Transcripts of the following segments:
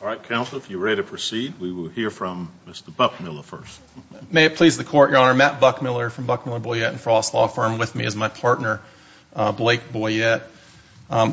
All right, counsel, if you're ready to proceed, we will hear from Mr. Buckmiller first. May it please the Court, Your Honor. Matt Buckmiller from Buckmiller, Boyette & Frost Law Firm with me as my partner, Blake Boyette.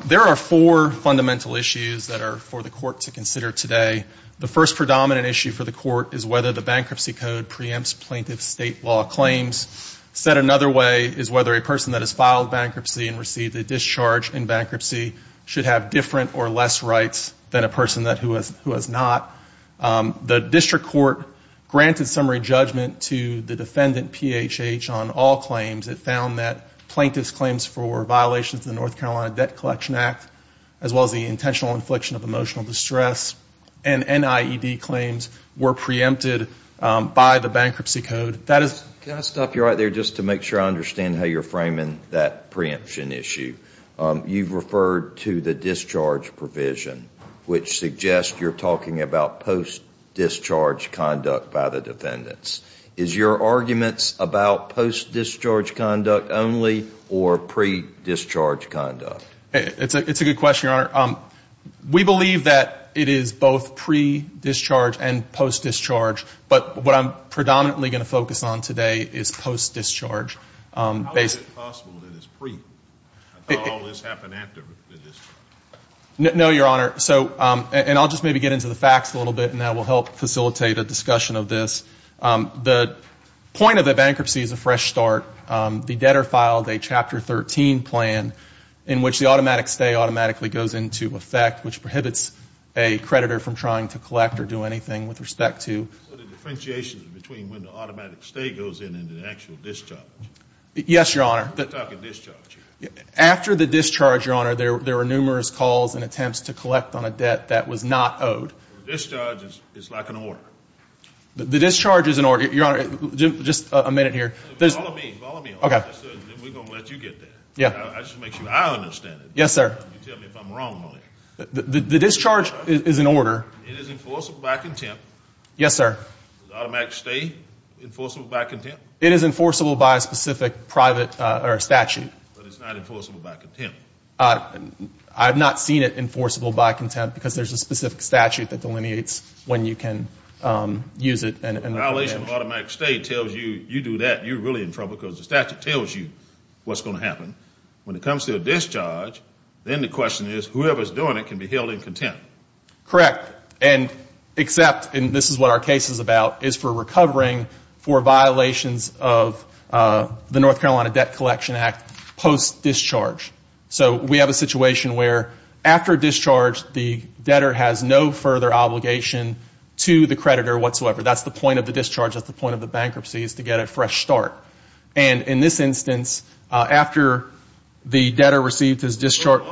There are four fundamental issues that are for the Court to consider today. The first predominant issue for the Court is whether the bankruptcy code preempts plaintiff's state law claims. Said another way is whether a person that has filed bankruptcy and received a discharge in bankruptcy should have different or less rights than a person who has not. The district court granted summary judgment to the defendant, PHH, on all claims. It found that plaintiff's claims for violations of the North Carolina Debt Collection Act, as well as the intentional infliction of emotional distress and NIED claims were preempted by the bankruptcy code. Can I stop you right there just to make sure I understand how you're framing that preemption issue? You've referred to the discharge provision, which suggests you're talking about post-discharge conduct by the defendants. Is your argument about post-discharge conduct only or pre-discharge conduct? It's a good question, Your Honor. We believe that it is both pre-discharge and post-discharge, but what I'm predominantly going to focus on today is post-discharge. How is it possible that it's pre? I thought all this happened after the discharge. No, Your Honor. And I'll just maybe get into the facts a little bit, and that will help facilitate a discussion of this. The point of the bankruptcy is a fresh start. The debtor filed a Chapter 13 plan in which the automatic stay automatically goes into effect, which prohibits a creditor from trying to collect or do anything with respect to the differentiation between when the automatic stay goes in and the actual discharge. Yes, Your Honor. I'm talking discharge here. After the discharge, Your Honor, there were numerous calls and attempts to collect on a debt that was not owed. The discharge is like an order. The discharge is an order. Your Honor, just a minute here. Follow me. Follow me. We're going to let you get there. I just want to make sure I understand it. You tell me if I'm wrong on it. The discharge is an order. It is enforceable by contempt. Yes, sir. Is automatic stay enforceable by contempt? It is enforceable by a specific private statute. But it's not enforceable by contempt. I've not seen it enforceable by contempt because there's a specific statute that delineates when you can use it. A violation of automatic stay tells you you do that, you're really in trouble because the statute tells you what's going to happen. When it comes to a discharge, then the question is whoever's doing it can be held in contempt. Correct. And except, and this is what our case is about, is for recovering for violations of the North Carolina Debt Collection Act post-discharge. So we have a situation where after discharge, the debtor has no further obligation to the creditor whatsoever. That's the point of the discharge. That's the point of the bankruptcy is to get a fresh start. And in this instance, after the debtor received his discharge.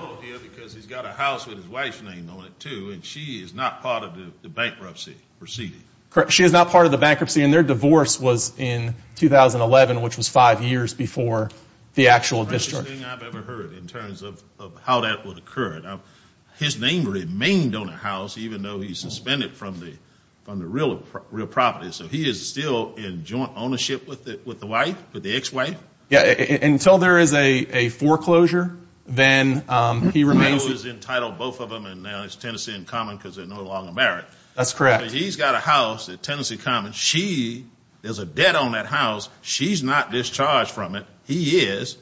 Because he's got a house with his wife's name on it, too, and she is not part of the bankruptcy proceeding. She is not part of the bankruptcy and their divorce was in 2011, which was five years before the actual discharge. That's the strangest thing I've ever heard in terms of how that would occur. His name remained on the house even though he's suspended from the real property. So he is still in joint ownership with the wife, with the ex-wife? Until there is a foreclosure, then he remains. He was entitled, both of them, and now it's Tennessee and Common because they're no longer married. That's correct. He's got a house at Tennessee Common. She, there's a debt on that house. She's not discharged from it. He is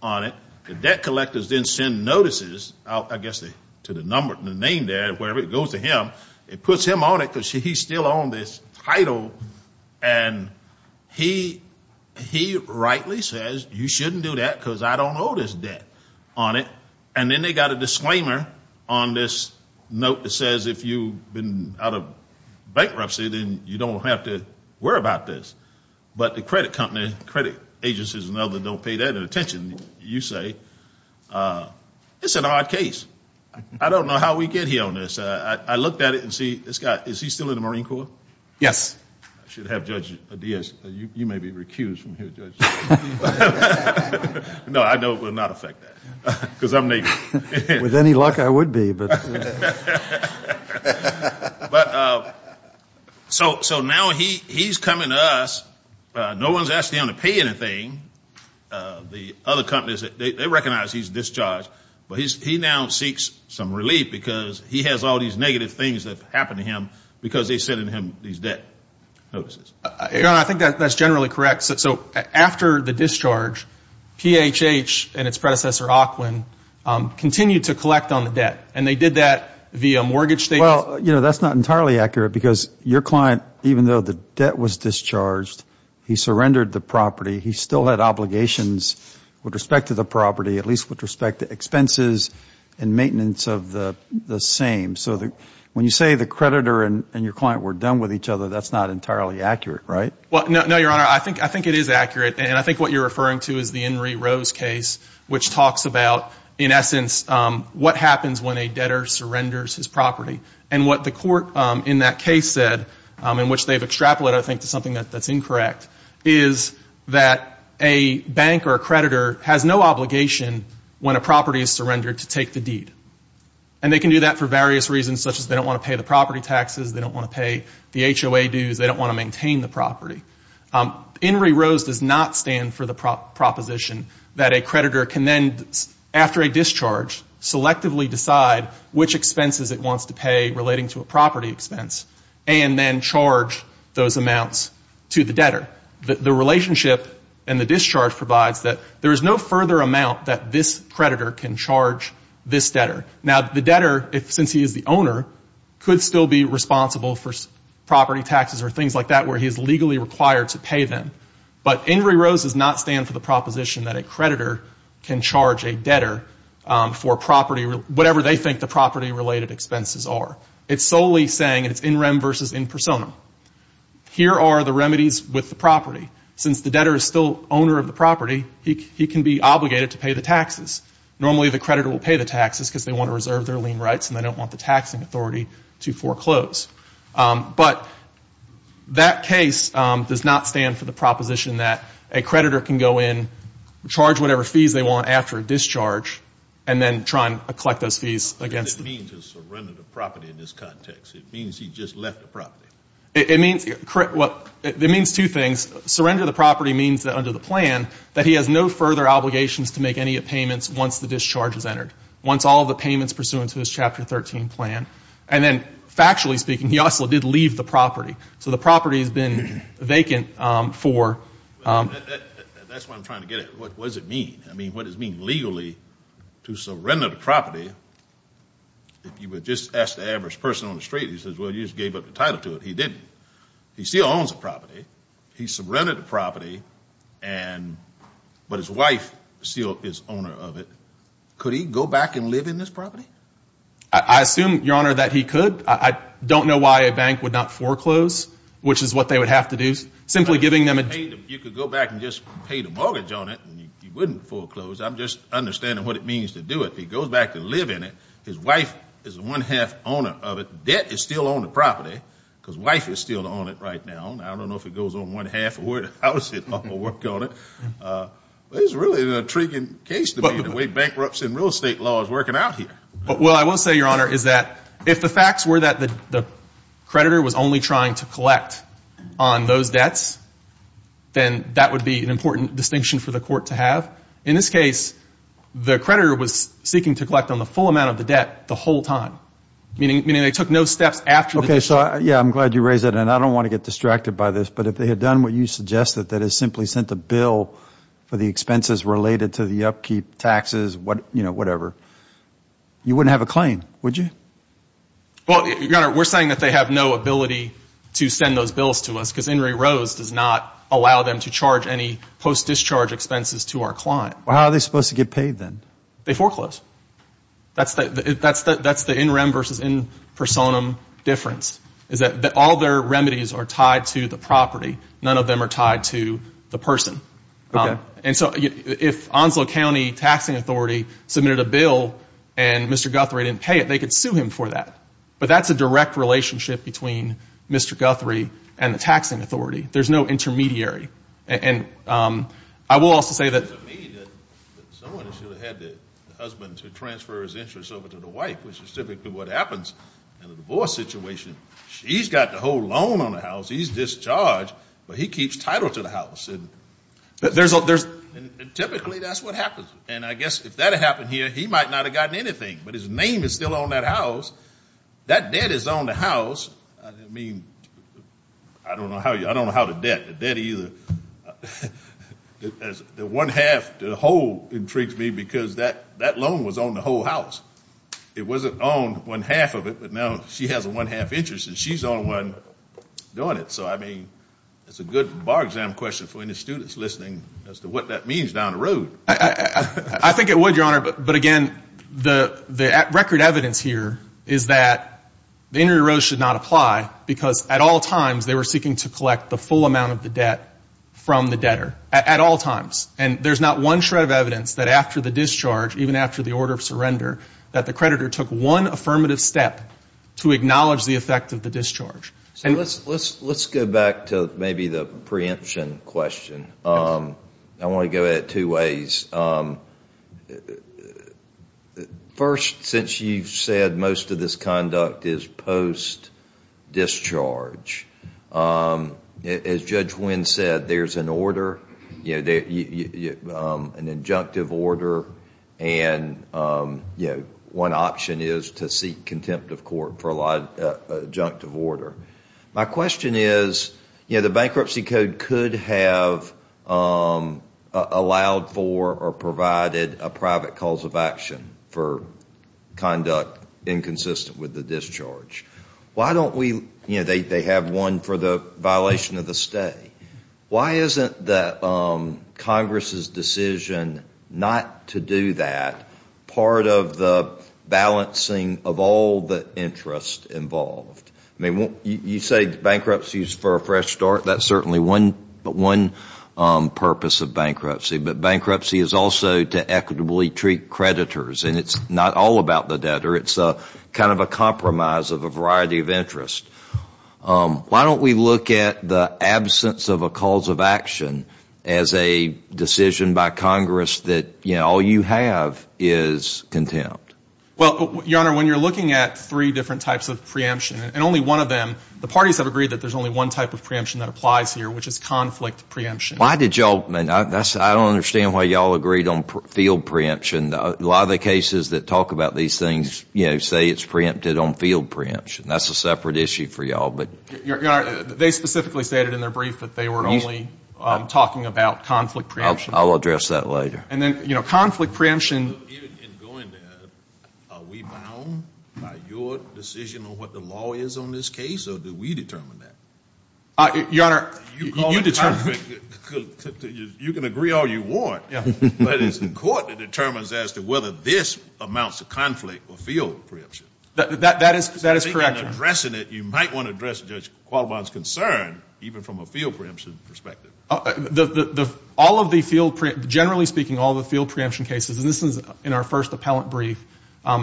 on it. The debt collectors then send notices out, I guess, to the name there, wherever it goes to him. It puts him on it because he's still on this title. And he rightly says, you shouldn't do that because I don't owe this debt on it. And then they got a disclaimer on this note that says if you've been out of bankruptcy, then you don't have to worry about this. But the credit company, credit agencies and others don't pay that attention, you say. It's an odd case. I don't know how we get here on this. I looked at it and see this guy, is he still in the Marine Corps? Yes. I should have Judge Diaz. You may be recused from here, Judge. No, I know it will not affect that. With any luck, I would be. So now he's coming to us. No one's asking him to pay anything. The other companies, they recognize he's discharged. But he now seeks some relief because he has all these negative things that have happened to him because they're sending him these debt notices. I think that's generally correct. So after the discharge, PHH and its predecessor, Auckland, continued to collect on the debt. And they did that via mortgage statements. Well, that's not entirely accurate because your client, even though the debt was discharged, he surrendered the property. He still had obligations with respect to the property, at least with respect to expenses and maintenance of the same. So when you say the creditor and your client were done with each other, that's not entirely accurate, right? Well, no, Your Honor, I think it is accurate. And I think what you're referring to is the Henry Rose case, which talks about, in essence, what happens when a debtor surrenders his property. And what the court in that case said, in which they've extrapolated, I think, to something that's incorrect, is that a bank or a creditor has no obligation when a property is surrendered to take the deed. And they can do that for various reasons, such as they don't want to pay the property taxes, they don't want to pay the HOA dues, they don't want to maintain the property. Henry Rose does not stand for the proposition that a creditor can then, after a discharge, selectively decide which expenses it wants to pay relating to a property expense and then charge those amounts to the debtor. The relationship in the discharge provides that there is no further amount that this creditor can charge this debtor. Now, the debtor, since he is the owner, could still be responsible for property taxes or things like that where he is legally required to pay them. But Henry Rose does not stand for the proposition that a creditor can charge a debtor for whatever they think the property-related expenses are. It's solely saying it's in rem versus in personam. Here are the remedies with the property. Since the debtor is still owner of the property, he can be obligated to pay the taxes. Normally the creditor will pay the taxes because they want to reserve their lien rights and they don't want the taxing authority to foreclose. But that case does not stand for the proposition that a creditor can go in, charge whatever fees they want after a discharge, and then try and collect those fees against them. What does it mean to surrender the property in this context? It means he just left the property. It means two things. Surrender the property means that under the plan that he has no further obligations to make any payments once the discharge is entered, once all of the payments pursuant to his Chapter 13 plan. And then factually speaking, he also did leave the property. So the property has been vacant for... That's what I'm trying to get at. What does it mean? I mean, what does it mean legally to surrender the property? If you would just ask the average person on the street, he says, well, you just gave up the title to it. He didn't. He still owns the property. He surrendered the property, but his wife still is owner of it. Could he go back and live in this property? I assume, Your Honor, that he could. I don't know why a bank would not foreclose, which is what they would have to do. Simply giving them a... You could go back and just pay the mortgage on it, and he wouldn't foreclose. I'm just understanding what it means to do it. He goes back to live in it. His wife is the one-half owner of it. Debt is still on the property because wife is still on it right now. I don't know if it goes on one-half or where the house is. I'm going to work on it. This is really an intriguing case to me, the way bankruptcy and real estate law is working out here. Well, I will say, Your Honor, is that if the facts were that the creditor was only trying to collect on those debts, then that would be an important distinction for the court to have. In this case, the creditor was seeking to collect on the full amount of the debt the whole time, meaning they took no steps after the... Okay, so, yeah, I'm glad you raised that. And I don't want to get distracted by this, but if they had done what you suggested, that is simply sent a bill for the expenses related to the upkeep, taxes, whatever, you wouldn't have a claim, would you? Well, Your Honor, we're saying that they have no ability to send those bills to us because In re Rose does not allow them to charge any post-discharge expenses to our client. Well, how are they supposed to get paid then? They foreclose. That's the in rem versus in personam difference, is that all their remedies are tied to the property. None of them are tied to the person. Okay. And so if Onslow County Taxing Authority submitted a bill and Mr. Guthrie didn't pay it, they could sue him for that. But that's a direct relationship between Mr. Guthrie and the taxing authority. There's no intermediary. And I will also say that... It doesn't mean that someone should have had the husband to transfer his interest over to the wife, which is typically what happens in a divorce situation. She's got the whole loan on the house. He's discharged, but he keeps title to the house. And typically that's what happens. And I guess if that had happened here, he might not have gotten anything. But his name is still on that house. That debt is on the house. I mean, I don't know how to debt either. The one half to the whole intrigues me because that loan was on the whole house. It wasn't on one half of it. But now she has a one half interest, and she's the only one doing it. So, I mean, it's a good bar exam question for any students listening as to what that means down the road. I think it would, Your Honor. But, again, the record evidence here is that the injury rose should not apply because at all times they were seeking to collect the full amount of the debt from the debtor at all times. And there's not one shred of evidence that after the discharge, even after the order of surrender, that the creditor took one affirmative step to acknowledge the effect of the discharge. Let's go back to maybe the preemption question. I want to go at it two ways. First, since you've said most of this conduct is post-discharge, as Judge Wynn said, there's an order. An injunctive order, and one option is to seek contempt of court for a lot of injunctive order. My question is, you know, the bankruptcy code could have allowed for or provided a private cause of action for conduct inconsistent with the discharge. Why don't we, you know, they have one for the violation of the stay. Why isn't the Congress' decision not to do that part of the balancing of all the interest involved? I mean, you say bankruptcy is for a fresh start. That's certainly one purpose of bankruptcy. But bankruptcy is also to equitably treat creditors. And it's not all about the debtor. It's kind of a compromise of a variety of interest. Why don't we look at the absence of a cause of action as a decision by Congress that, you know, all you have is contempt? Well, Your Honor, when you're looking at three different types of preemption, and only one of them, the parties have agreed that there's only one type of preemption that applies here, which is conflict preemption. Why did y'all, I don't understand why y'all agreed on field preemption. A lot of the cases that talk about these things, you know, say it's preempted on field preemption. That's a separate issue for y'all, but. Your Honor, they specifically stated in their brief that they were only talking about conflict preemption. I'll address that later. And then, you know, conflict preemption. In going there, are we bound by your decision on what the law is on this case, or do we determine that? Your Honor, you determine. You can agree all you want, but it's the court that determines as to whether this amounts to conflict or field preemption. That is correct, Your Honor. Speaking of addressing it, you might want to address Judge Qualibon's concern, even from a field preemption perspective. All of the field, generally speaking, all of the field preemption cases, and this is in our first appellant brief,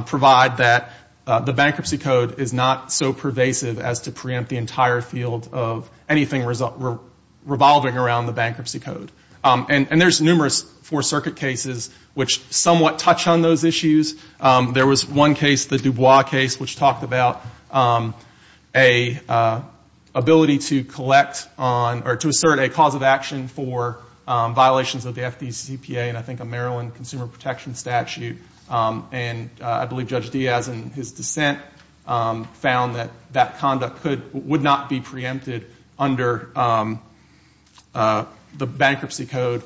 provide that the bankruptcy code is not so pervasive as to preempt the entire field of anything revolving around the bankruptcy code. And there's numerous Fourth Circuit cases which somewhat touch on those issues. There was one case, the Dubois case, which talked about a ability to collect on or to assert a cause of action for violations of the FDCPA, and I think a Maryland consumer protection statute. And I believe Judge Diaz, in his dissent, found that that conduct would not be preempted under the bankruptcy code.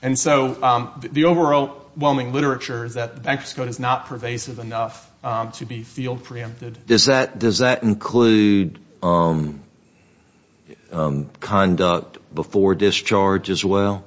And so the overwhelming literature is that the bankruptcy code is not pervasive enough to be field preempted. Does that include conduct before discharge as well?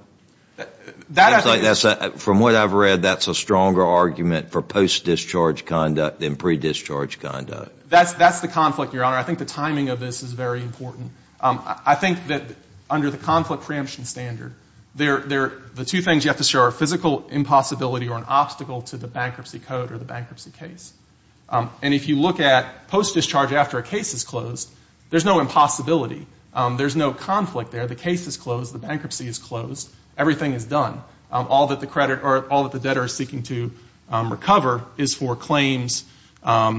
From what I've read, that's a stronger argument for post-discharge conduct than pre-discharge conduct. That's the conflict, Your Honor. I think the timing of this is very important. I think that under the conflict preemption standard, the two things you have to show are physical impossibility or an obstacle to the bankruptcy code or the bankruptcy case. And if you look at post-discharge after a case is closed, there's no impossibility. There's no conflict there. The case is closed. The bankruptcy is closed. Everything is done. All that the credit or all that the debtor is seeking to recover is for claims that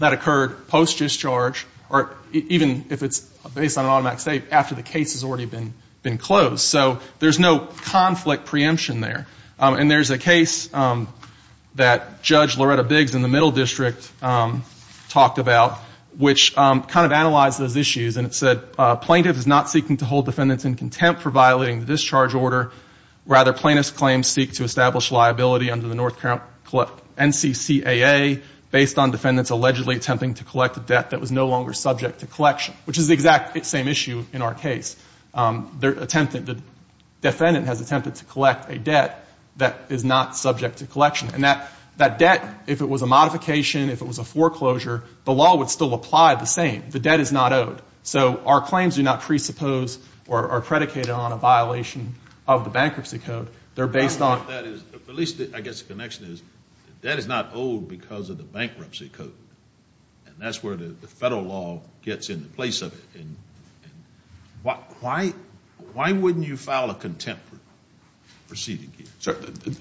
occurred post-discharge or even if it's based on an automatic state, after the case has already been closed. So there's no conflict preemption there. And there's a case that Judge Loretta Biggs in the Middle District talked about, which kind of analyzed those issues and it said, plaintiff is not seeking to hold defendants in contempt for violating the discharge order. Rather, plaintiff's claims seek to establish liability under the North Carolina NCCAA based on defendants allegedly attempting to collect a debt that was no longer subject to collection, which is the exact same issue in our case. The defendant has attempted to collect a debt that is not subject to collection. And that debt, if it was a modification, if it was a foreclosure, the law would still apply the same. The debt is not owed. So our claims do not presuppose or are predicated on a violation of the bankruptcy code. At least I guess the connection is that debt is not owed because of the bankruptcy code. And that's where the federal law gets in the place of it. Why wouldn't you file a contempt proceeding?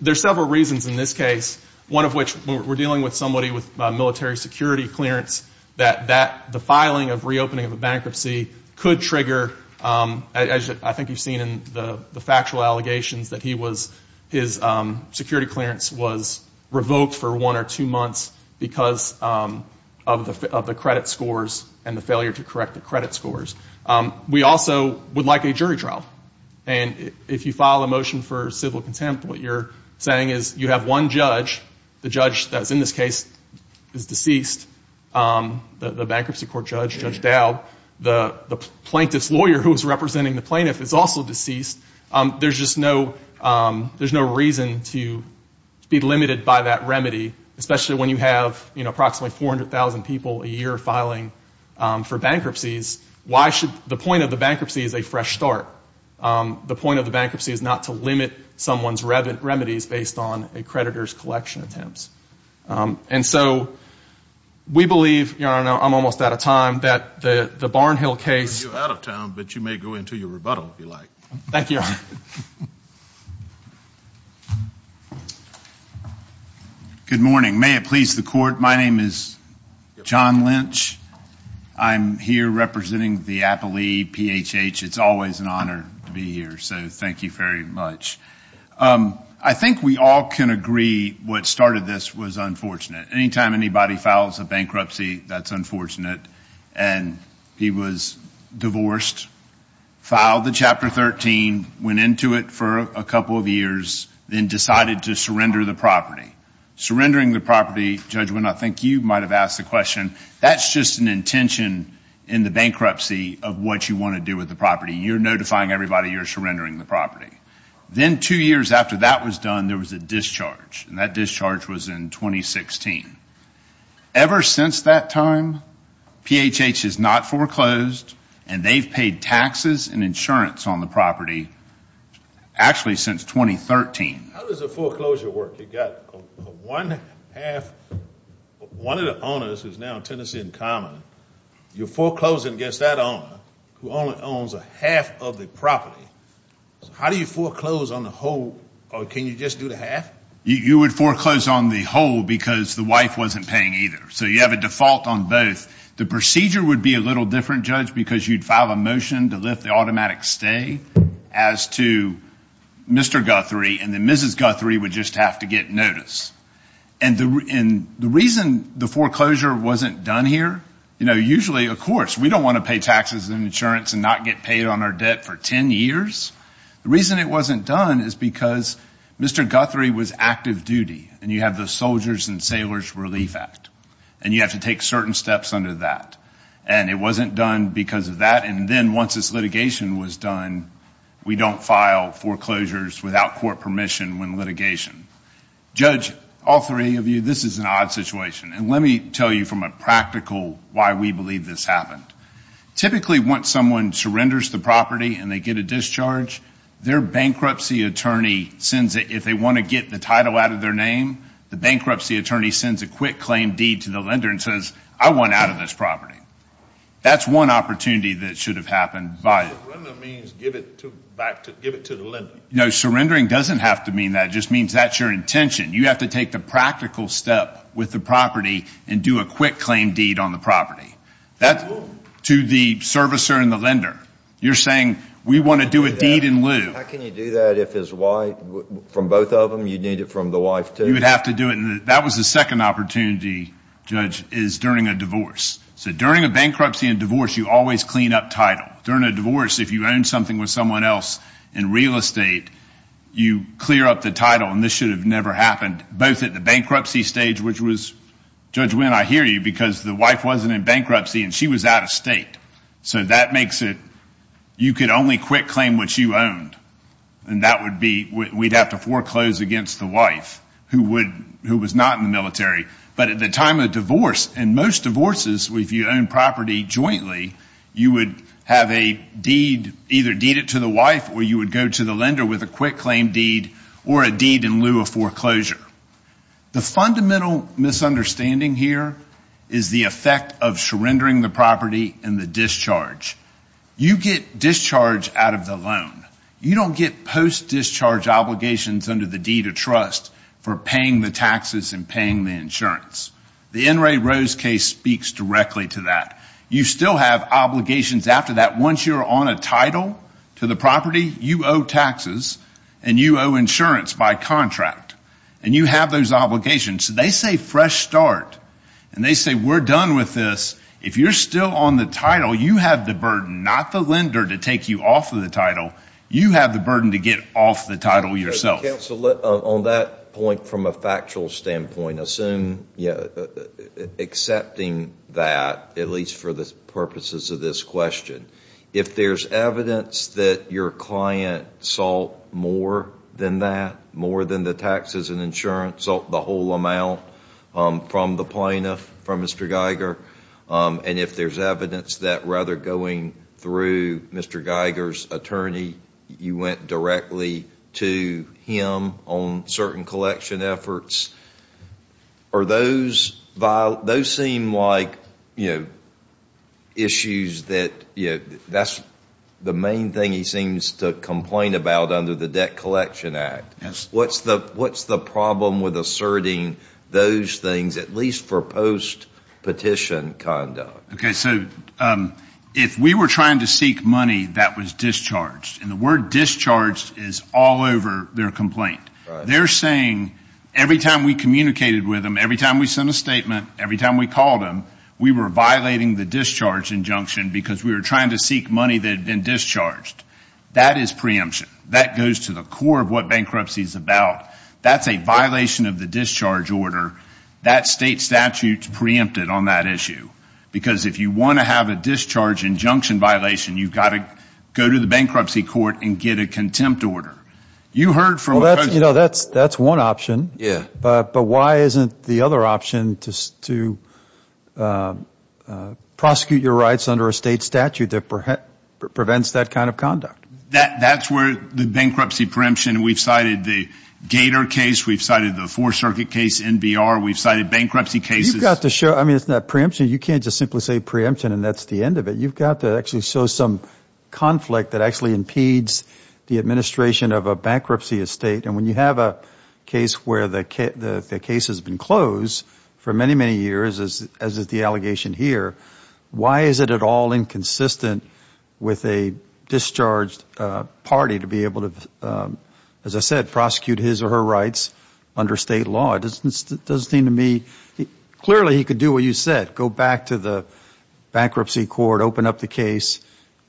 There are several reasons in this case, one of which we're dealing with somebody with military security clearance, that the filing of reopening of a bankruptcy could trigger, as I think you've seen in the factual allegations, that his security clearance was revoked for one or two months because of the credit scores and the failure to correct the credit scores. We also would like a jury trial. And if you file a motion for civil contempt, what you're saying is you have one judge, the judge that's in this case is deceased, the bankruptcy court judge, Judge Dowd, the plaintiff's lawyer who is representing the plaintiff is also deceased. There's just no reason to be limited by that remedy, especially when you have approximately 400,000 people a year filing for bankruptcies. The point of the bankruptcy is a fresh start. The point of the bankruptcy is not to limit someone's remedies based on a creditor's collection attempts. And so we believe, and I'm almost out of time, that the Barnhill case. You're out of time, but you may go into your rebuttal if you like. Thank you. Good morning. May it please the court. My name is John Lynch. I'm here representing the Appley PHH. It's always an honor to be here, so thank you very much. I think we all can agree what started this was unfortunate. Anytime anybody files a bankruptcy, that's unfortunate, and he was divorced, filed the Chapter 13, went into it for a couple of years, then decided to surrender the property. Surrendering the property, Judge Winn, I think you might have asked the question, that's just an intention in the bankruptcy of what you want to do with the property. Then two years after that was done, there was a discharge, and that discharge was in 2016. Ever since that time, PHH has not foreclosed, and they've paid taxes and insurance on the property, actually since 2013. How does the foreclosure work? You've got one half, one of the owners is now Tennessee and Common. You're foreclosing against that owner, who only owns a half of the property. How do you foreclose on the whole, or can you just do the half? You would foreclose on the whole because the wife wasn't paying either, so you have a default on both. The procedure would be a little different, Judge, because you'd file a motion to lift the automatic stay as to Mr. Guthrie, and then Mrs. Guthrie would just have to get notice. The reason the foreclosure wasn't done here, usually, of course, we don't want to pay taxes and insurance and not get paid on our debt for 10 years. The reason it wasn't done is because Mr. Guthrie was active duty, and you have the Soldiers and Sailors Relief Act, and you have to take certain steps under that. It wasn't done because of that, and then once this litigation was done, we don't file foreclosures without court permission when litigation. Judge, all three of you, this is an odd situation. Let me tell you from a practical, why we believe this happened. Typically, once someone surrenders the property and they get a discharge, their bankruptcy attorney sends it. If they want to get the title out of their name, the bankruptcy attorney sends a quick claim deed to the lender and says, I want out of this property. That's one opportunity that should have happened. Surrender means give it to the lender. No, surrendering doesn't have to mean that. It just means that's your intention. You have to take the practical step with the property and do a quick claim deed on the property. That's to the servicer and the lender. You're saying we want to do a deed in lieu. How can you do that from both of them? You'd need it from the wife, too. You would have to do it. That was the second opportunity, Judge, is during a divorce. So during a bankruptcy and divorce, you always clean up title. During a divorce, if you own something with someone else in real estate, you clear up the title, and this should have never happened, both at the bankruptcy stage, which was, Judge Winn, I hear you because the wife wasn't in bankruptcy and she was out of state. So that makes it you could only quick claim what you owned, and that would be we'd have to foreclose against the wife who was not in the military. But at the time of divorce, and most divorces, if you own property jointly, you would have a deed, either deed it to the wife or you would go to the lender with a quick claim deed or a deed in lieu of foreclosure. The fundamental misunderstanding here is the effect of surrendering the property and the discharge. You get discharge out of the loan. You don't get post-discharge obligations under the deed of trust for paying the taxes and paying the insurance. The N. Ray Rose case speaks directly to that. You still have obligations after that. Once you're on a title to the property, you owe taxes and you owe insurance by contract, and you have those obligations. They say fresh start, and they say we're done with this. If you're still on the title, you have the burden, not the lender, to take you off of the title. You have the burden to get off the title yourself. Counsel, on that point from a factual standpoint, accepting that, at least for the purposes of this question, if there's evidence that your client sought more than that, more than the taxes and insurance, sought the whole amount from the plaintiff, from Mr. Geiger, and if there's evidence that rather going through Mr. Geiger's attorney, you went directly to him on certain collection efforts, those seem like issues that that's the main thing he seems to complain about under the Debt Collection Act. What's the problem with asserting those things, at least for post-petition conduct? Okay, so if we were trying to seek money that was discharged, and the word discharged is all over their complaint, they're saying every time we communicated with them, every time we sent a statement, every time we called them, we were violating the discharge injunction because we were trying to seek money that had been discharged. That is preemption. That goes to the core of what bankruptcy is about. That's a violation of the discharge order. That state statute is preempted on that issue because if you want to have a discharge injunction violation, you've got to go to the bankruptcy court and get a contempt order. You heard from a person. Well, that's one option. Yeah. But why isn't the other option to prosecute your rights under a state statute that prevents that kind of conduct? That's where the bankruptcy preemption, we've cited the Gator case, we've cited the Fourth Circuit case, NBR, we've cited bankruptcy cases. You've got to show, I mean, it's not preemption. You can't just simply say preemption and that's the end of it. You've got to actually show some conflict that actually impedes the administration of a bankruptcy estate. And when you have a case where the case has been closed for many, many years, as is the allegation here, why is it at all inconsistent with a discharged party to be able to, as I said, prosecute his or her rights under state law? It doesn't seem to me. Clearly, he could do what you said, go back to the bankruptcy court, open up the case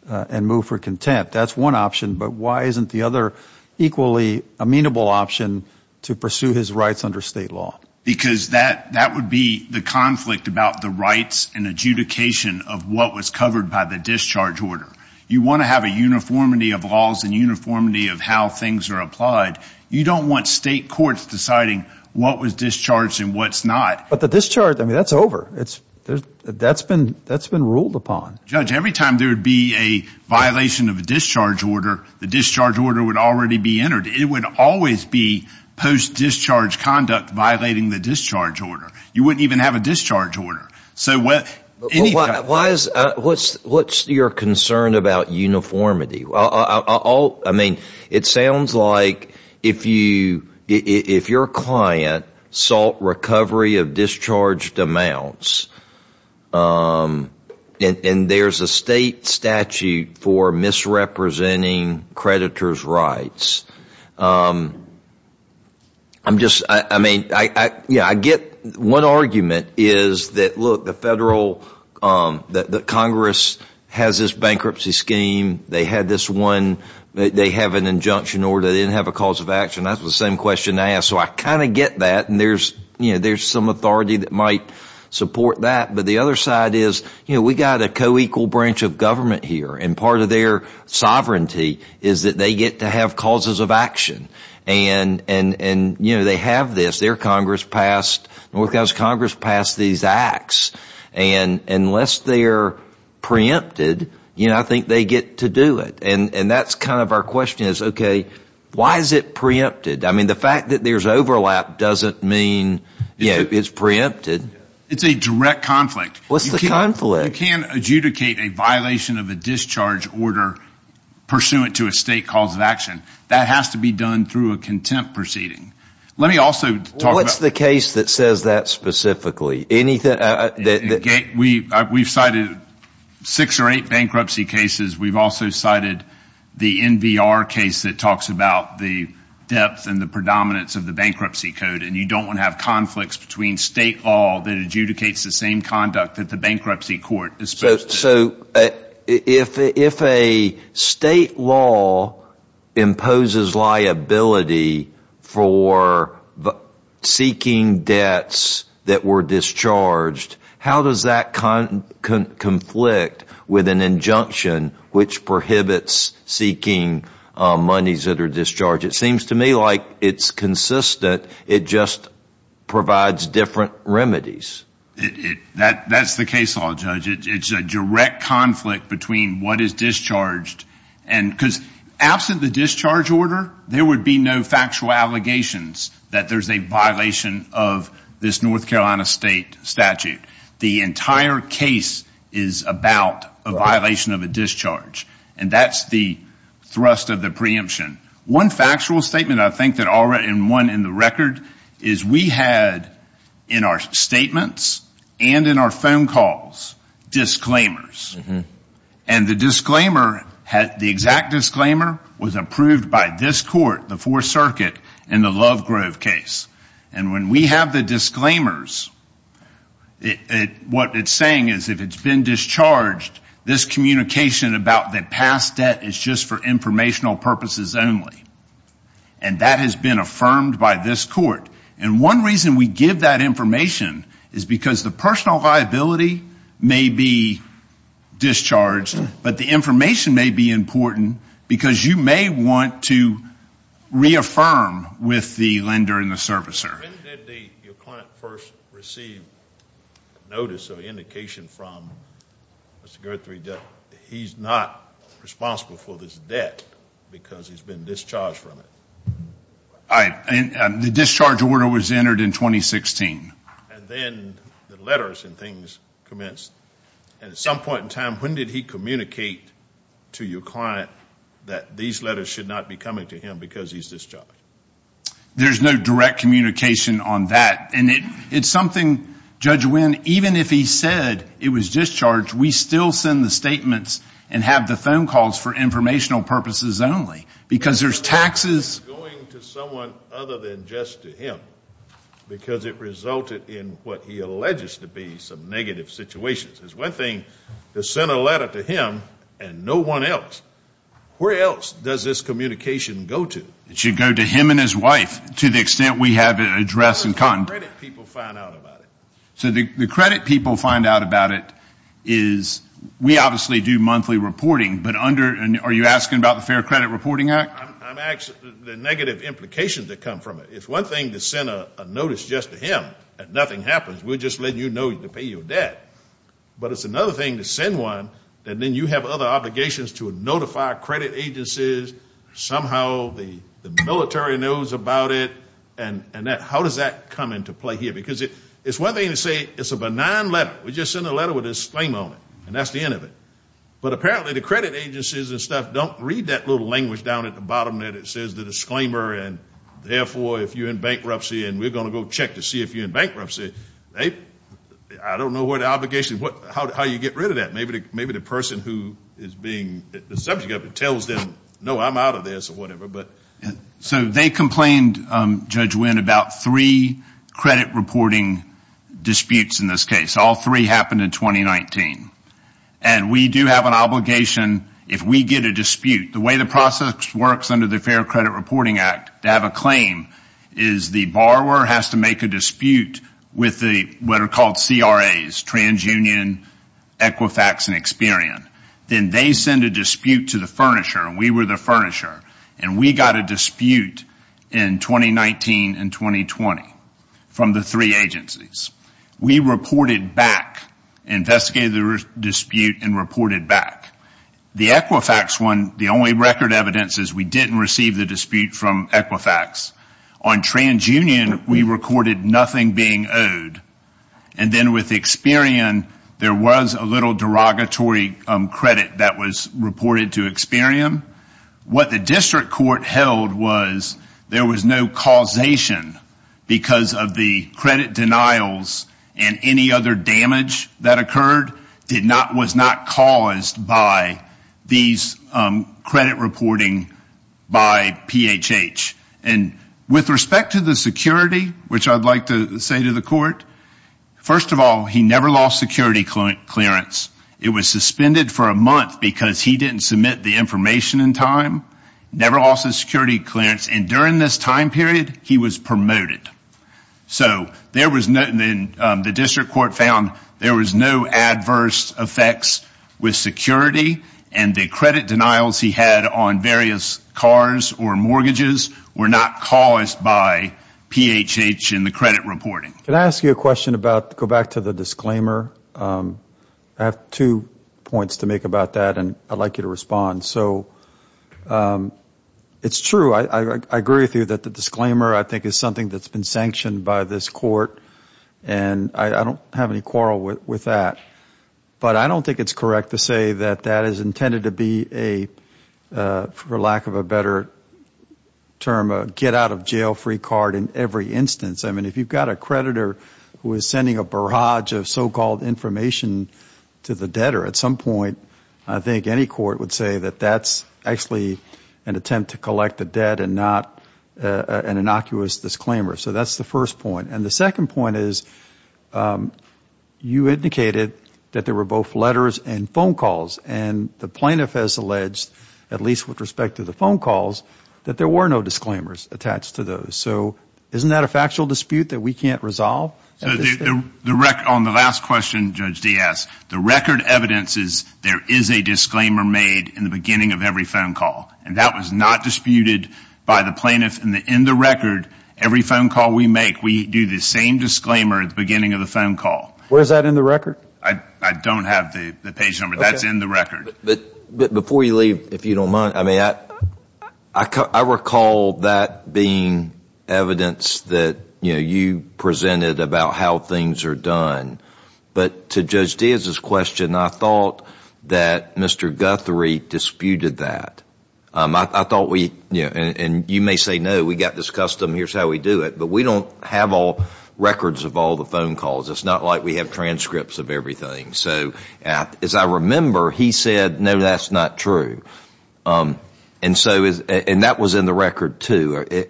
and move for contempt. That's one option. But why isn't the other equally amenable option to pursue his rights under state law? Because that would be the conflict about the rights and adjudication of what was covered by the discharge order. You want to have a uniformity of laws and uniformity of how things are applied. You don't want state courts deciding what was discharged and what's not. But the discharge, I mean, that's over. That's been ruled upon. Judge, every time there would be a violation of a discharge order, the discharge order would already be entered. It would always be post-discharge conduct violating the discharge order. You wouldn't even have a discharge order. What's your concern about uniformity? I mean, it sounds like if your client sought recovery of discharged amounts and there's a state statute for misrepresenting creditors' rights, I'm just, I mean, I get one argument is that, look, the federal, that Congress has this bankruptcy scheme. They had this one, they have an injunction order. They didn't have a cause of action. That's the same question I asked. So I kind of get that. And there's some authority that might support that. But the other side is, you know, we've got a co-equal branch of government here. And part of their sovereignty is that they get to have causes of action. And, you know, they have this. Their Congress passed, North Carolina's Congress passed these acts. And unless they're preempted, you know, I think they get to do it. And that's kind of our question is, okay, why is it preempted? I mean, the fact that there's overlap doesn't mean, you know, it's preempted. It's a direct conflict. What's the conflict? You can't adjudicate a violation of a discharge order pursuant to a state cause of action. That has to be done through a contempt proceeding. Let me also talk about. What's the case that says that specifically? We've cited six or eight bankruptcy cases. We've also cited the NVR case that talks about the depth and the predominance of the bankruptcy code. And you don't want to have conflicts between state law that adjudicates the same conduct that the bankruptcy court is supposed to. So if a state law imposes liability for seeking debts that were discharged, how does that conflict with an injunction which prohibits seeking monies that are discharged? It seems to me like it's consistent. It just provides different remedies. That's the case, Judge. It's a direct conflict between what is discharged. Because absent the discharge order, there would be no factual allegations that there's a violation of this North Carolina state statute. The entire case is about a violation of a discharge. And that's the thrust of the preemption. One factual statement I think that I'll write, and one in the record, is we had in our statements and in our phone calls disclaimers. And the exact disclaimer was approved by this court, the Fourth Circuit, in the Lovegrove case. And when we have the disclaimers, what it's saying is if it's been discharged, this communication about the past debt is just for informational purposes only. And that has been affirmed by this court. And one reason we give that information is because the personal liability may be discharged, but the information may be important because you may want to reaffirm with the lender and the servicer. When did your client first receive notice or indication from Mr. Guthrie that he's not responsible for this debt because he's been discharged from it? The discharge order was entered in 2016. And then the letters and things commenced. And at some point in time, when did he communicate to your client that these letters should not be coming to him because he's discharged? There's no direct communication on that. And it's something, Judge Wynn, even if he said it was discharged, we still send the statements and have the phone calls for informational purposes only because there's taxes. Going to someone other than just to him because it resulted in what he alleges to be some negative situations. It's one thing to send a letter to him and no one else. Where else does this communication go to? It should go to him and his wife to the extent we have it addressed. The credit people find out about it. So the credit people find out about it is we obviously do monthly reporting, but are you asking about the Fair Credit Reporting Act? I'm asking the negative implications that come from it. It's one thing to send a notice just to him and nothing happens. We're just letting you know to pay your debt. But it's another thing to send one and then you have other obligations to notify credit agencies, somehow the military knows about it, and how does that come into play here? Because it's one thing to say it's a benign letter. We just send a letter with a disclaimer on it, and that's the end of it. But apparently the credit agencies and stuff don't read that little language down at the bottom there that says the disclaimer and therefore if you're in bankruptcy and we're going to go check to see if you're in bankruptcy. I don't know what obligation, how you get rid of that. Maybe the person who is being the subject of it tells them, no, I'm out of this or whatever. So they complained, Judge Wynn, about three credit reporting disputes in this case. All three happened in 2019. And we do have an obligation if we get a dispute. The way the process works under the Fair Credit Reporting Act to have a claim is the borrower has to make a dispute with what are called CRAs, TransUnion, Equifax, and Experian. Then they send a dispute to the furnisher, and we were the furnisher, and we got a dispute in 2019 and 2020 from the three agencies. We reported back, investigated the dispute, and reported back. The Equifax one, the only record evidence is we didn't receive the dispute from Equifax. On TransUnion, we recorded nothing being owed. And then with Experian, there was a little derogatory credit that was reported to Experian. What the district court held was there was no causation because of the credit denials and any other damage that occurred was not caused by these credit reporting by PHH. And with respect to the security, which I'd like to say to the court, first of all, he never lost security clearance. It was suspended for a month because he didn't submit the information in time. Never lost his security clearance. And during this time period, he was promoted. So the district court found there was no adverse effects with security and the credit denials he had on various cars or mortgages were not caused by PHH in the credit reporting. Can I ask you a question about, go back to the disclaimer? I have two points to make about that, and I'd like you to respond. So it's true, I agree with you that the disclaimer, I think, is something that's been sanctioned by this court, and I don't have any quarrel with that. But I don't think it's correct to say that that is intended to be a, for lack of a better term, a get-out-of-jail-free card in every instance. I mean, if you've got a creditor who is sending a barrage of so-called information to the debtor, at some point I think any court would say that that's actually an attempt to collect the debt and not an innocuous disclaimer. So that's the first point. And the second point is you indicated that there were both letters and phone calls, and the plaintiff has alleged, at least with respect to the phone calls, that there were no disclaimers attached to those. So isn't that a factual dispute that we can't resolve? On the last question, Judge Diaz, the record evidence is there is a disclaimer made in the beginning of every phone call, and that was not disputed by the plaintiff. In the record, every phone call we make, we do the same disclaimer at the beginning of the phone call. Where is that in the record? I don't have the page number. That's in the record. But before you leave, if you don't mind, I mean, I recall that being evidence that, you know, you presented about how things are done. But to Judge Diaz's question, I thought that Mr. Guthrie disputed that. I thought we, you know, and you may say, no, we've got this custom, here's how we do it. But we don't have all records of all the phone calls. It's not like we have transcripts of everything. So as I remember, he said, no, that's not true. And that was in the record, too.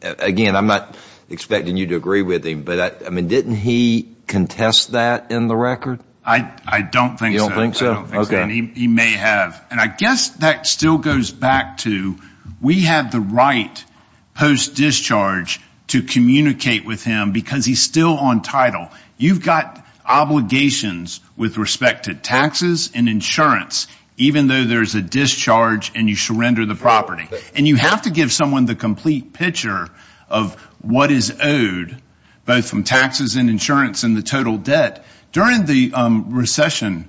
Again, I'm not expecting you to agree with him, but, I mean, didn't he contest that in the record? I don't think so. You don't think so? I don't think so. He may have. And I guess that still goes back to we have the right post-discharge to communicate with him because he's still on title. You've got obligations with respect to taxes and insurance, even though there's a discharge and you surrender the property. And you have to give someone the complete picture of what is owed, both from taxes and insurance and the total debt. During the recession,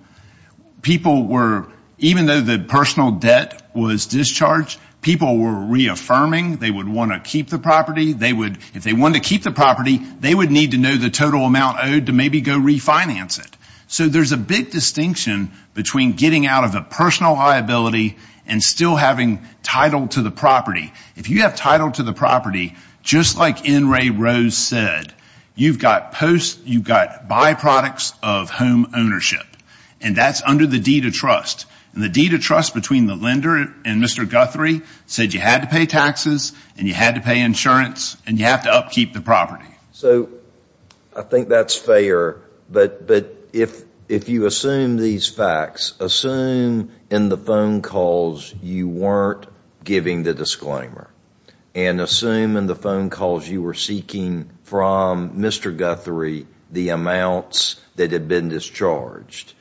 people were, even though the personal debt was discharged, people were reaffirming they would want to keep the property. If they wanted to keep the property, they would need to know the total amount owed to maybe go refinance it. So there's a big distinction between getting out of the personal liability and still having title to the property. If you have title to the property, just like N. Ray Rose said, you've got byproducts of home ownership. And that's under the deed of trust. And the deed of trust between the lender and Mr. Guthrie said you had to pay taxes and you had to pay insurance and you have to upkeep the property. So I think that's fair. But if you assume these facts, assume in the phone calls you weren't giving the disclaimer. And assume in the phone calls you were seeking from Mr. Guthrie the amounts that had been discharged.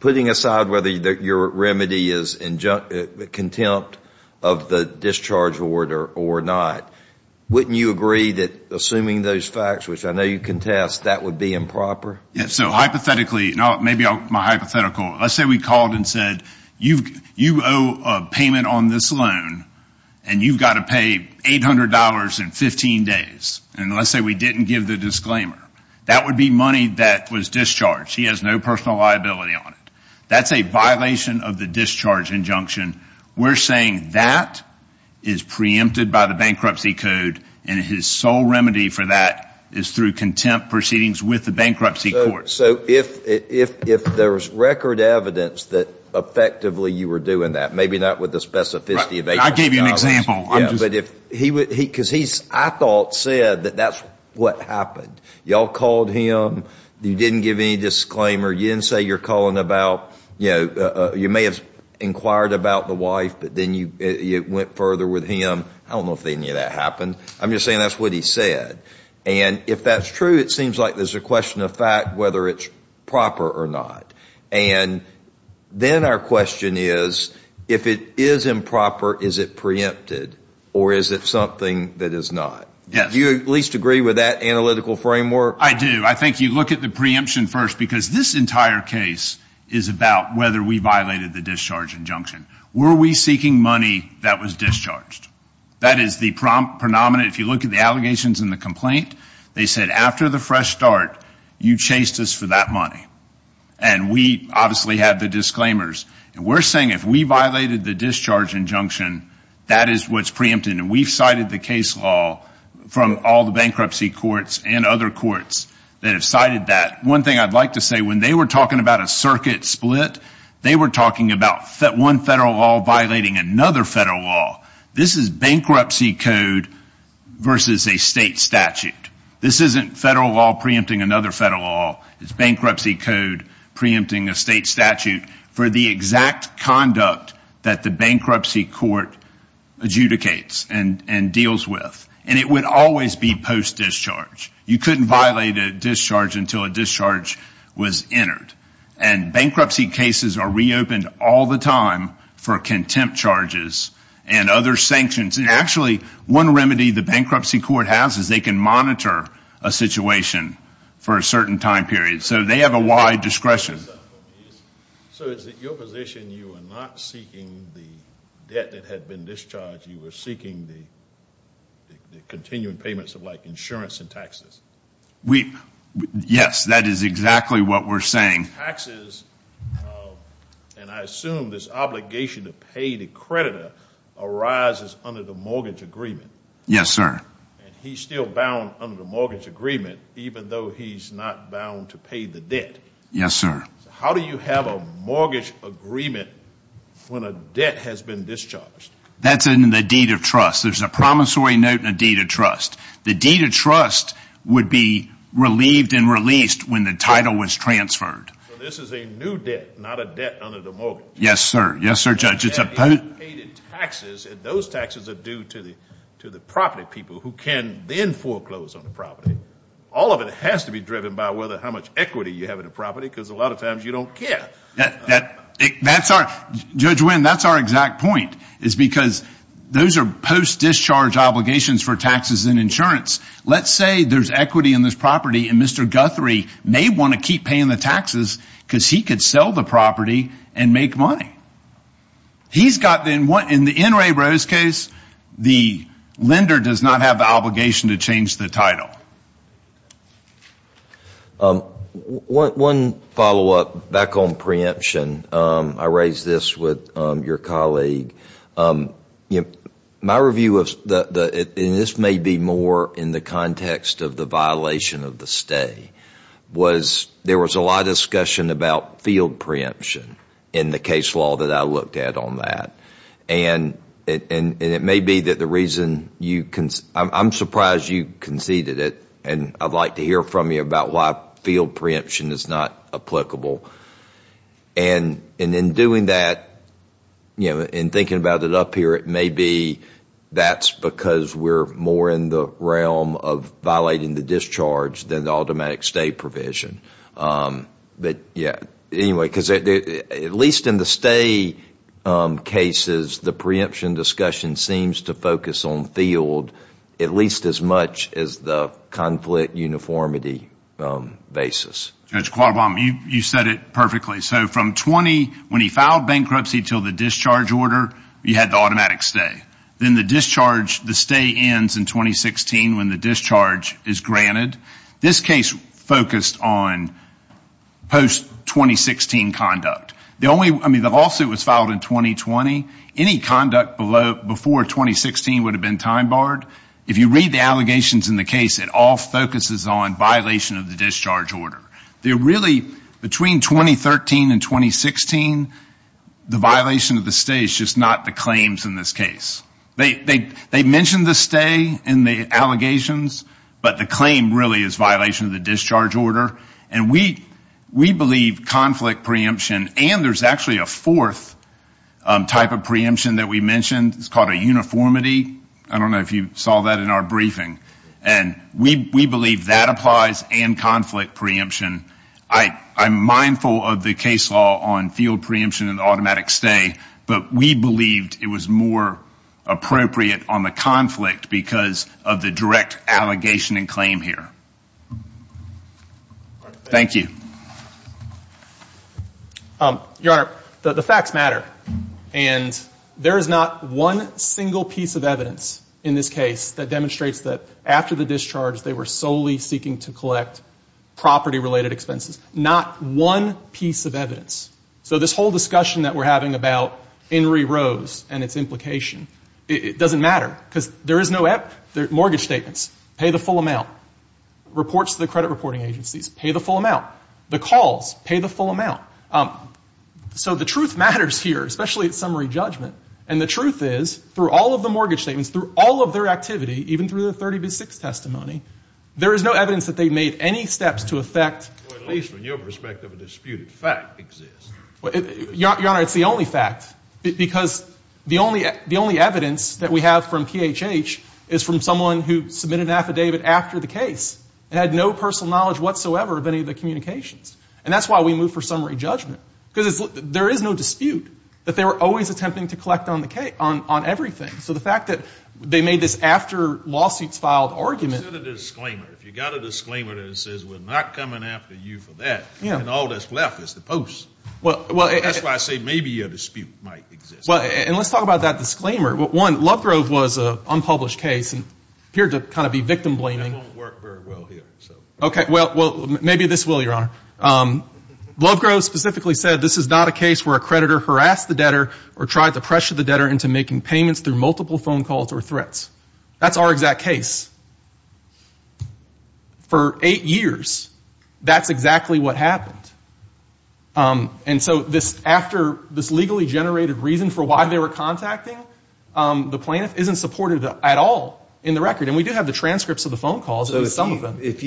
Putting aside whether your remedy is contempt of the discharge order or not, wouldn't you agree that assuming those facts, which I know you contest, that would be improper? So hypothetically, let's say we called and said you owe a payment on this loan and you've got to pay $800 in 15 days. And let's say we didn't give the disclaimer. That would be money that was discharged. He has no personal liability on it. That's a violation of the discharge injunction. We're saying that is preempted by the bankruptcy code and his sole remedy for that is through contempt proceedings with the bankruptcy court. So if there was record evidence that effectively you were doing that, maybe not with the specificity of $800. I gave you an example. Because he, I thought, said that that's what happened. You all called him. You didn't give any disclaimer. You didn't say you're calling about, you know, you may have inquired about the wife, but then you went further with him. I don't know if any of that happened. I'm just saying that's what he said. And if that's true, it seems like there's a question of fact whether it's proper or not. And then our question is, if it is improper, is it preempted or is it something that is not? Yes. Do you at least agree with that analytical framework? I do. I think you look at the preemption first, because this entire case is about whether we violated the discharge injunction. Were we seeking money that was discharged? That is the predominant. If you look at the allegations in the complaint, they said after the fresh start, you chased us for that money. And we obviously had the disclaimers. And we're saying if we violated the discharge injunction, that is what's preempted. And we've cited the case law from all the bankruptcy courts and other courts that have cited that. One thing I'd like to say, when they were talking about a circuit split, they were talking about one federal law violating another federal law. This is bankruptcy code versus a state statute. This isn't federal law preempting another federal law. It's bankruptcy code preempting a state statute for the exact conduct that the bankruptcy court adjudicates and deals with. And it would always be post-discharge. You couldn't violate a discharge until a discharge was entered. And bankruptcy cases are reopened all the time for contempt charges and other sanctions. And actually, one remedy the bankruptcy court has is they can monitor a situation for a certain time period. So they have a wide discretion. So is it your position you are not seeking the debt that had been discharged, Yes, that is exactly what we're saying. Taxes, and I assume this obligation to pay the creditor, arises under the mortgage agreement. Yes, sir. And he's still bound under the mortgage agreement even though he's not bound to pay the debt. Yes, sir. How do you have a mortgage agreement when a debt has been discharged? That's in the deed of trust. There's a promissory note in a deed of trust. The deed of trust would be relieved and released when the title was transferred. So this is a new debt, not a debt under the mortgage. Yes, sir. Yes, sir, Judge. It's a post- Those taxes are due to the property people who can then foreclose on the property. All of it has to be driven by how much equity you have in the property because a lot of times you don't care. Judge Wynn, that's our exact point. It's because those are post-discharge obligations for taxes and insurance. Let's say there's equity in this property and Mr. Guthrie may want to keep paying the taxes because he could sell the property and make money. In the N. Ray Rose case, the lender does not have the obligation to change the title. One follow-up back on preemption. I raised this with your colleague. My review, and this may be more in the context of the violation of the stay, was there was a lot of discussion about field preemption in the case law that I looked at on that. It may be that the reason you conceded, I'm surprised you conceded it, and I'd like to hear from you about why field preemption is not applicable. In doing that, in thinking about it up here, it may be that's because we're more in the realm of violating the discharge than the automatic stay provision. At least in the stay cases, the preemption discussion seems to focus on field at least as much as the conflict uniformity basis. Judge Qualabam, you said it perfectly. From 20, when he filed bankruptcy until the discharge order, you had the automatic stay. Then the discharge, the stay ends in 2016 when the discharge is granted. This case focused on post-2016 conduct. The lawsuit was filed in 2020. Any conduct before 2016 would have been time barred. If you read the allegations in the case, it all focuses on violation of the discharge order. Between 2013 and 2016, the violation of the stay is just not the claims in this case. They mention the stay in the allegations, but the claim really is violation of the discharge order. We believe conflict preemption, and there's actually a fourth type of preemption that we mentioned. It's called a uniformity. I don't know if you saw that in our briefing. We believe that applies and conflict preemption. I'm mindful of the case law on field preemption and automatic stay, but we believed it was more appropriate on the conflict because of the direct allegation and claim here. Thank you. Your Honor, the facts matter. There is not one single piece of evidence in this case that demonstrates that after the discharge, they were solely seeking to collect property-related expenses. Not one piece of evidence. So this whole discussion that we're having about Henry Rose and its implication, it doesn't matter because there is no mortgage statements. Pay the full amount. Reports to the credit reporting agencies. Pay the full amount. The calls. Pay the full amount. So the truth matters here, especially at summary judgment, and the truth is through all of the mortgage statements, through all of their activity, even through the 30-6 testimony, there is no evidence that they made any steps to affect. At least from your perspective, a disputed fact exists. Your Honor, it's the only fact. Because the only evidence that we have from PHH is from someone who submitted an affidavit after the case and had no personal knowledge whatsoever of any of the communications. And that's why we move for summary judgment. Because there is no dispute that they were always attempting to collect on the case, on everything. So the fact that they made this after lawsuits filed argument. If you got a disclaimer that says we're not coming after you for that and all that's left is the post. That's why I say maybe a dispute might exist. And let's talk about that disclaimer. One, Lovegrove was an unpublished case and appeared to kind of be victim-blaming. That won't work very well here. Okay. Well, maybe this will, Your Honor. Lovegrove specifically said this is not a case where a creditor harassed the debtor or tried to pressure the debtor into making payments through multiple phone calls or threats. That's our exact case. For eight years, that's exactly what happened. And so after this legally generated reason for why they were contacting, the plaintiff isn't supported at all in the record. And we do have the transcripts of the phone calls, at least some of them. If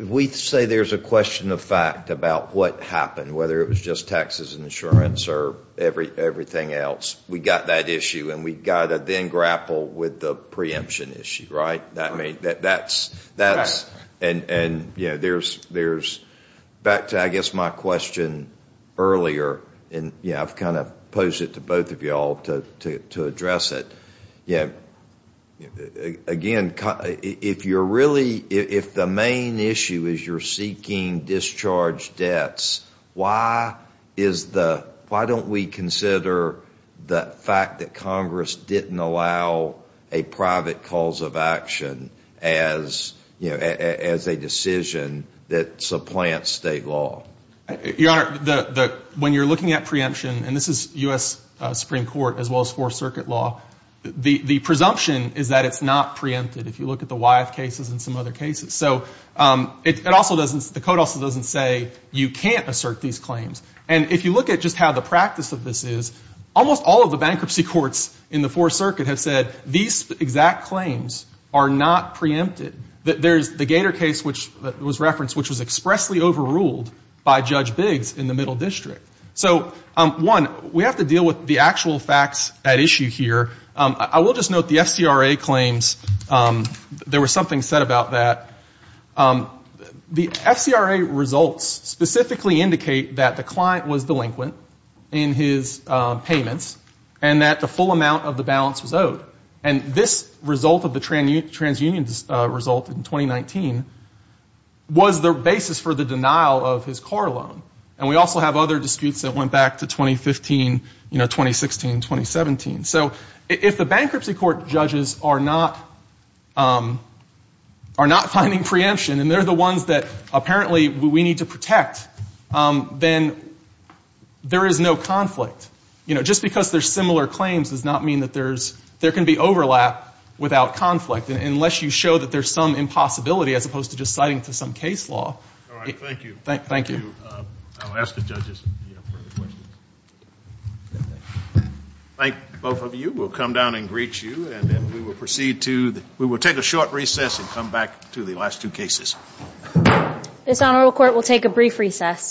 we say there's a question of fact about what happened, whether it was just taxes and insurance or everything else, we've got that issue and we've got to then grapple with the preemption issue, right? That's and, you know, there's back to, I guess, my question earlier. And, you know, I've kind of posed it to both of you all to address it. Again, if you're really, if the main issue is you're seeking discharge debts, why is the, why don't we consider the fact that Congress didn't allow a private cause of action as, you know, as a decision that supplants state law? Your Honor, when you're looking at preemption, and this is U.S. Supreme Court as well as Fourth Circuit law, the presumption is that it's not preempted if you look at the Wyeth cases and some other cases. So it also doesn't, the code also doesn't say you can't assert these claims. And if you look at just how the practice of this is, almost all of the bankruptcy courts in the Fourth Circuit have said, these exact claims are not preempted. There's the Gator case, which was referenced, which was expressly overruled by Judge Biggs in the Middle District. So, one, we have to deal with the actual facts at issue here. I will just note the FCRA claims. There was something said about that. The FCRA results specifically indicate that the client was delinquent in his payments and that the full amount of the balance was owed. And this result of the transunion result in 2019 was the basis for the denial of his car loan. And we also have other disputes that went back to 2015, you know, 2016, 2017. So if the bankruptcy court judges are not finding preemption, and they're the ones that apparently we need to protect, then there is no conflict. You know, just because there's similar claims does not mean that there can be overlap without conflict, unless you show that there's some impossibility as opposed to just citing it to some case law. All right. Thank you. Thank you. Thank you. I'll ask the judges if you have further questions. I think both of you will come down and greet you, and then we will proceed to the— we will take a short recess and come back to the last two cases. This honorable court will take a brief recess.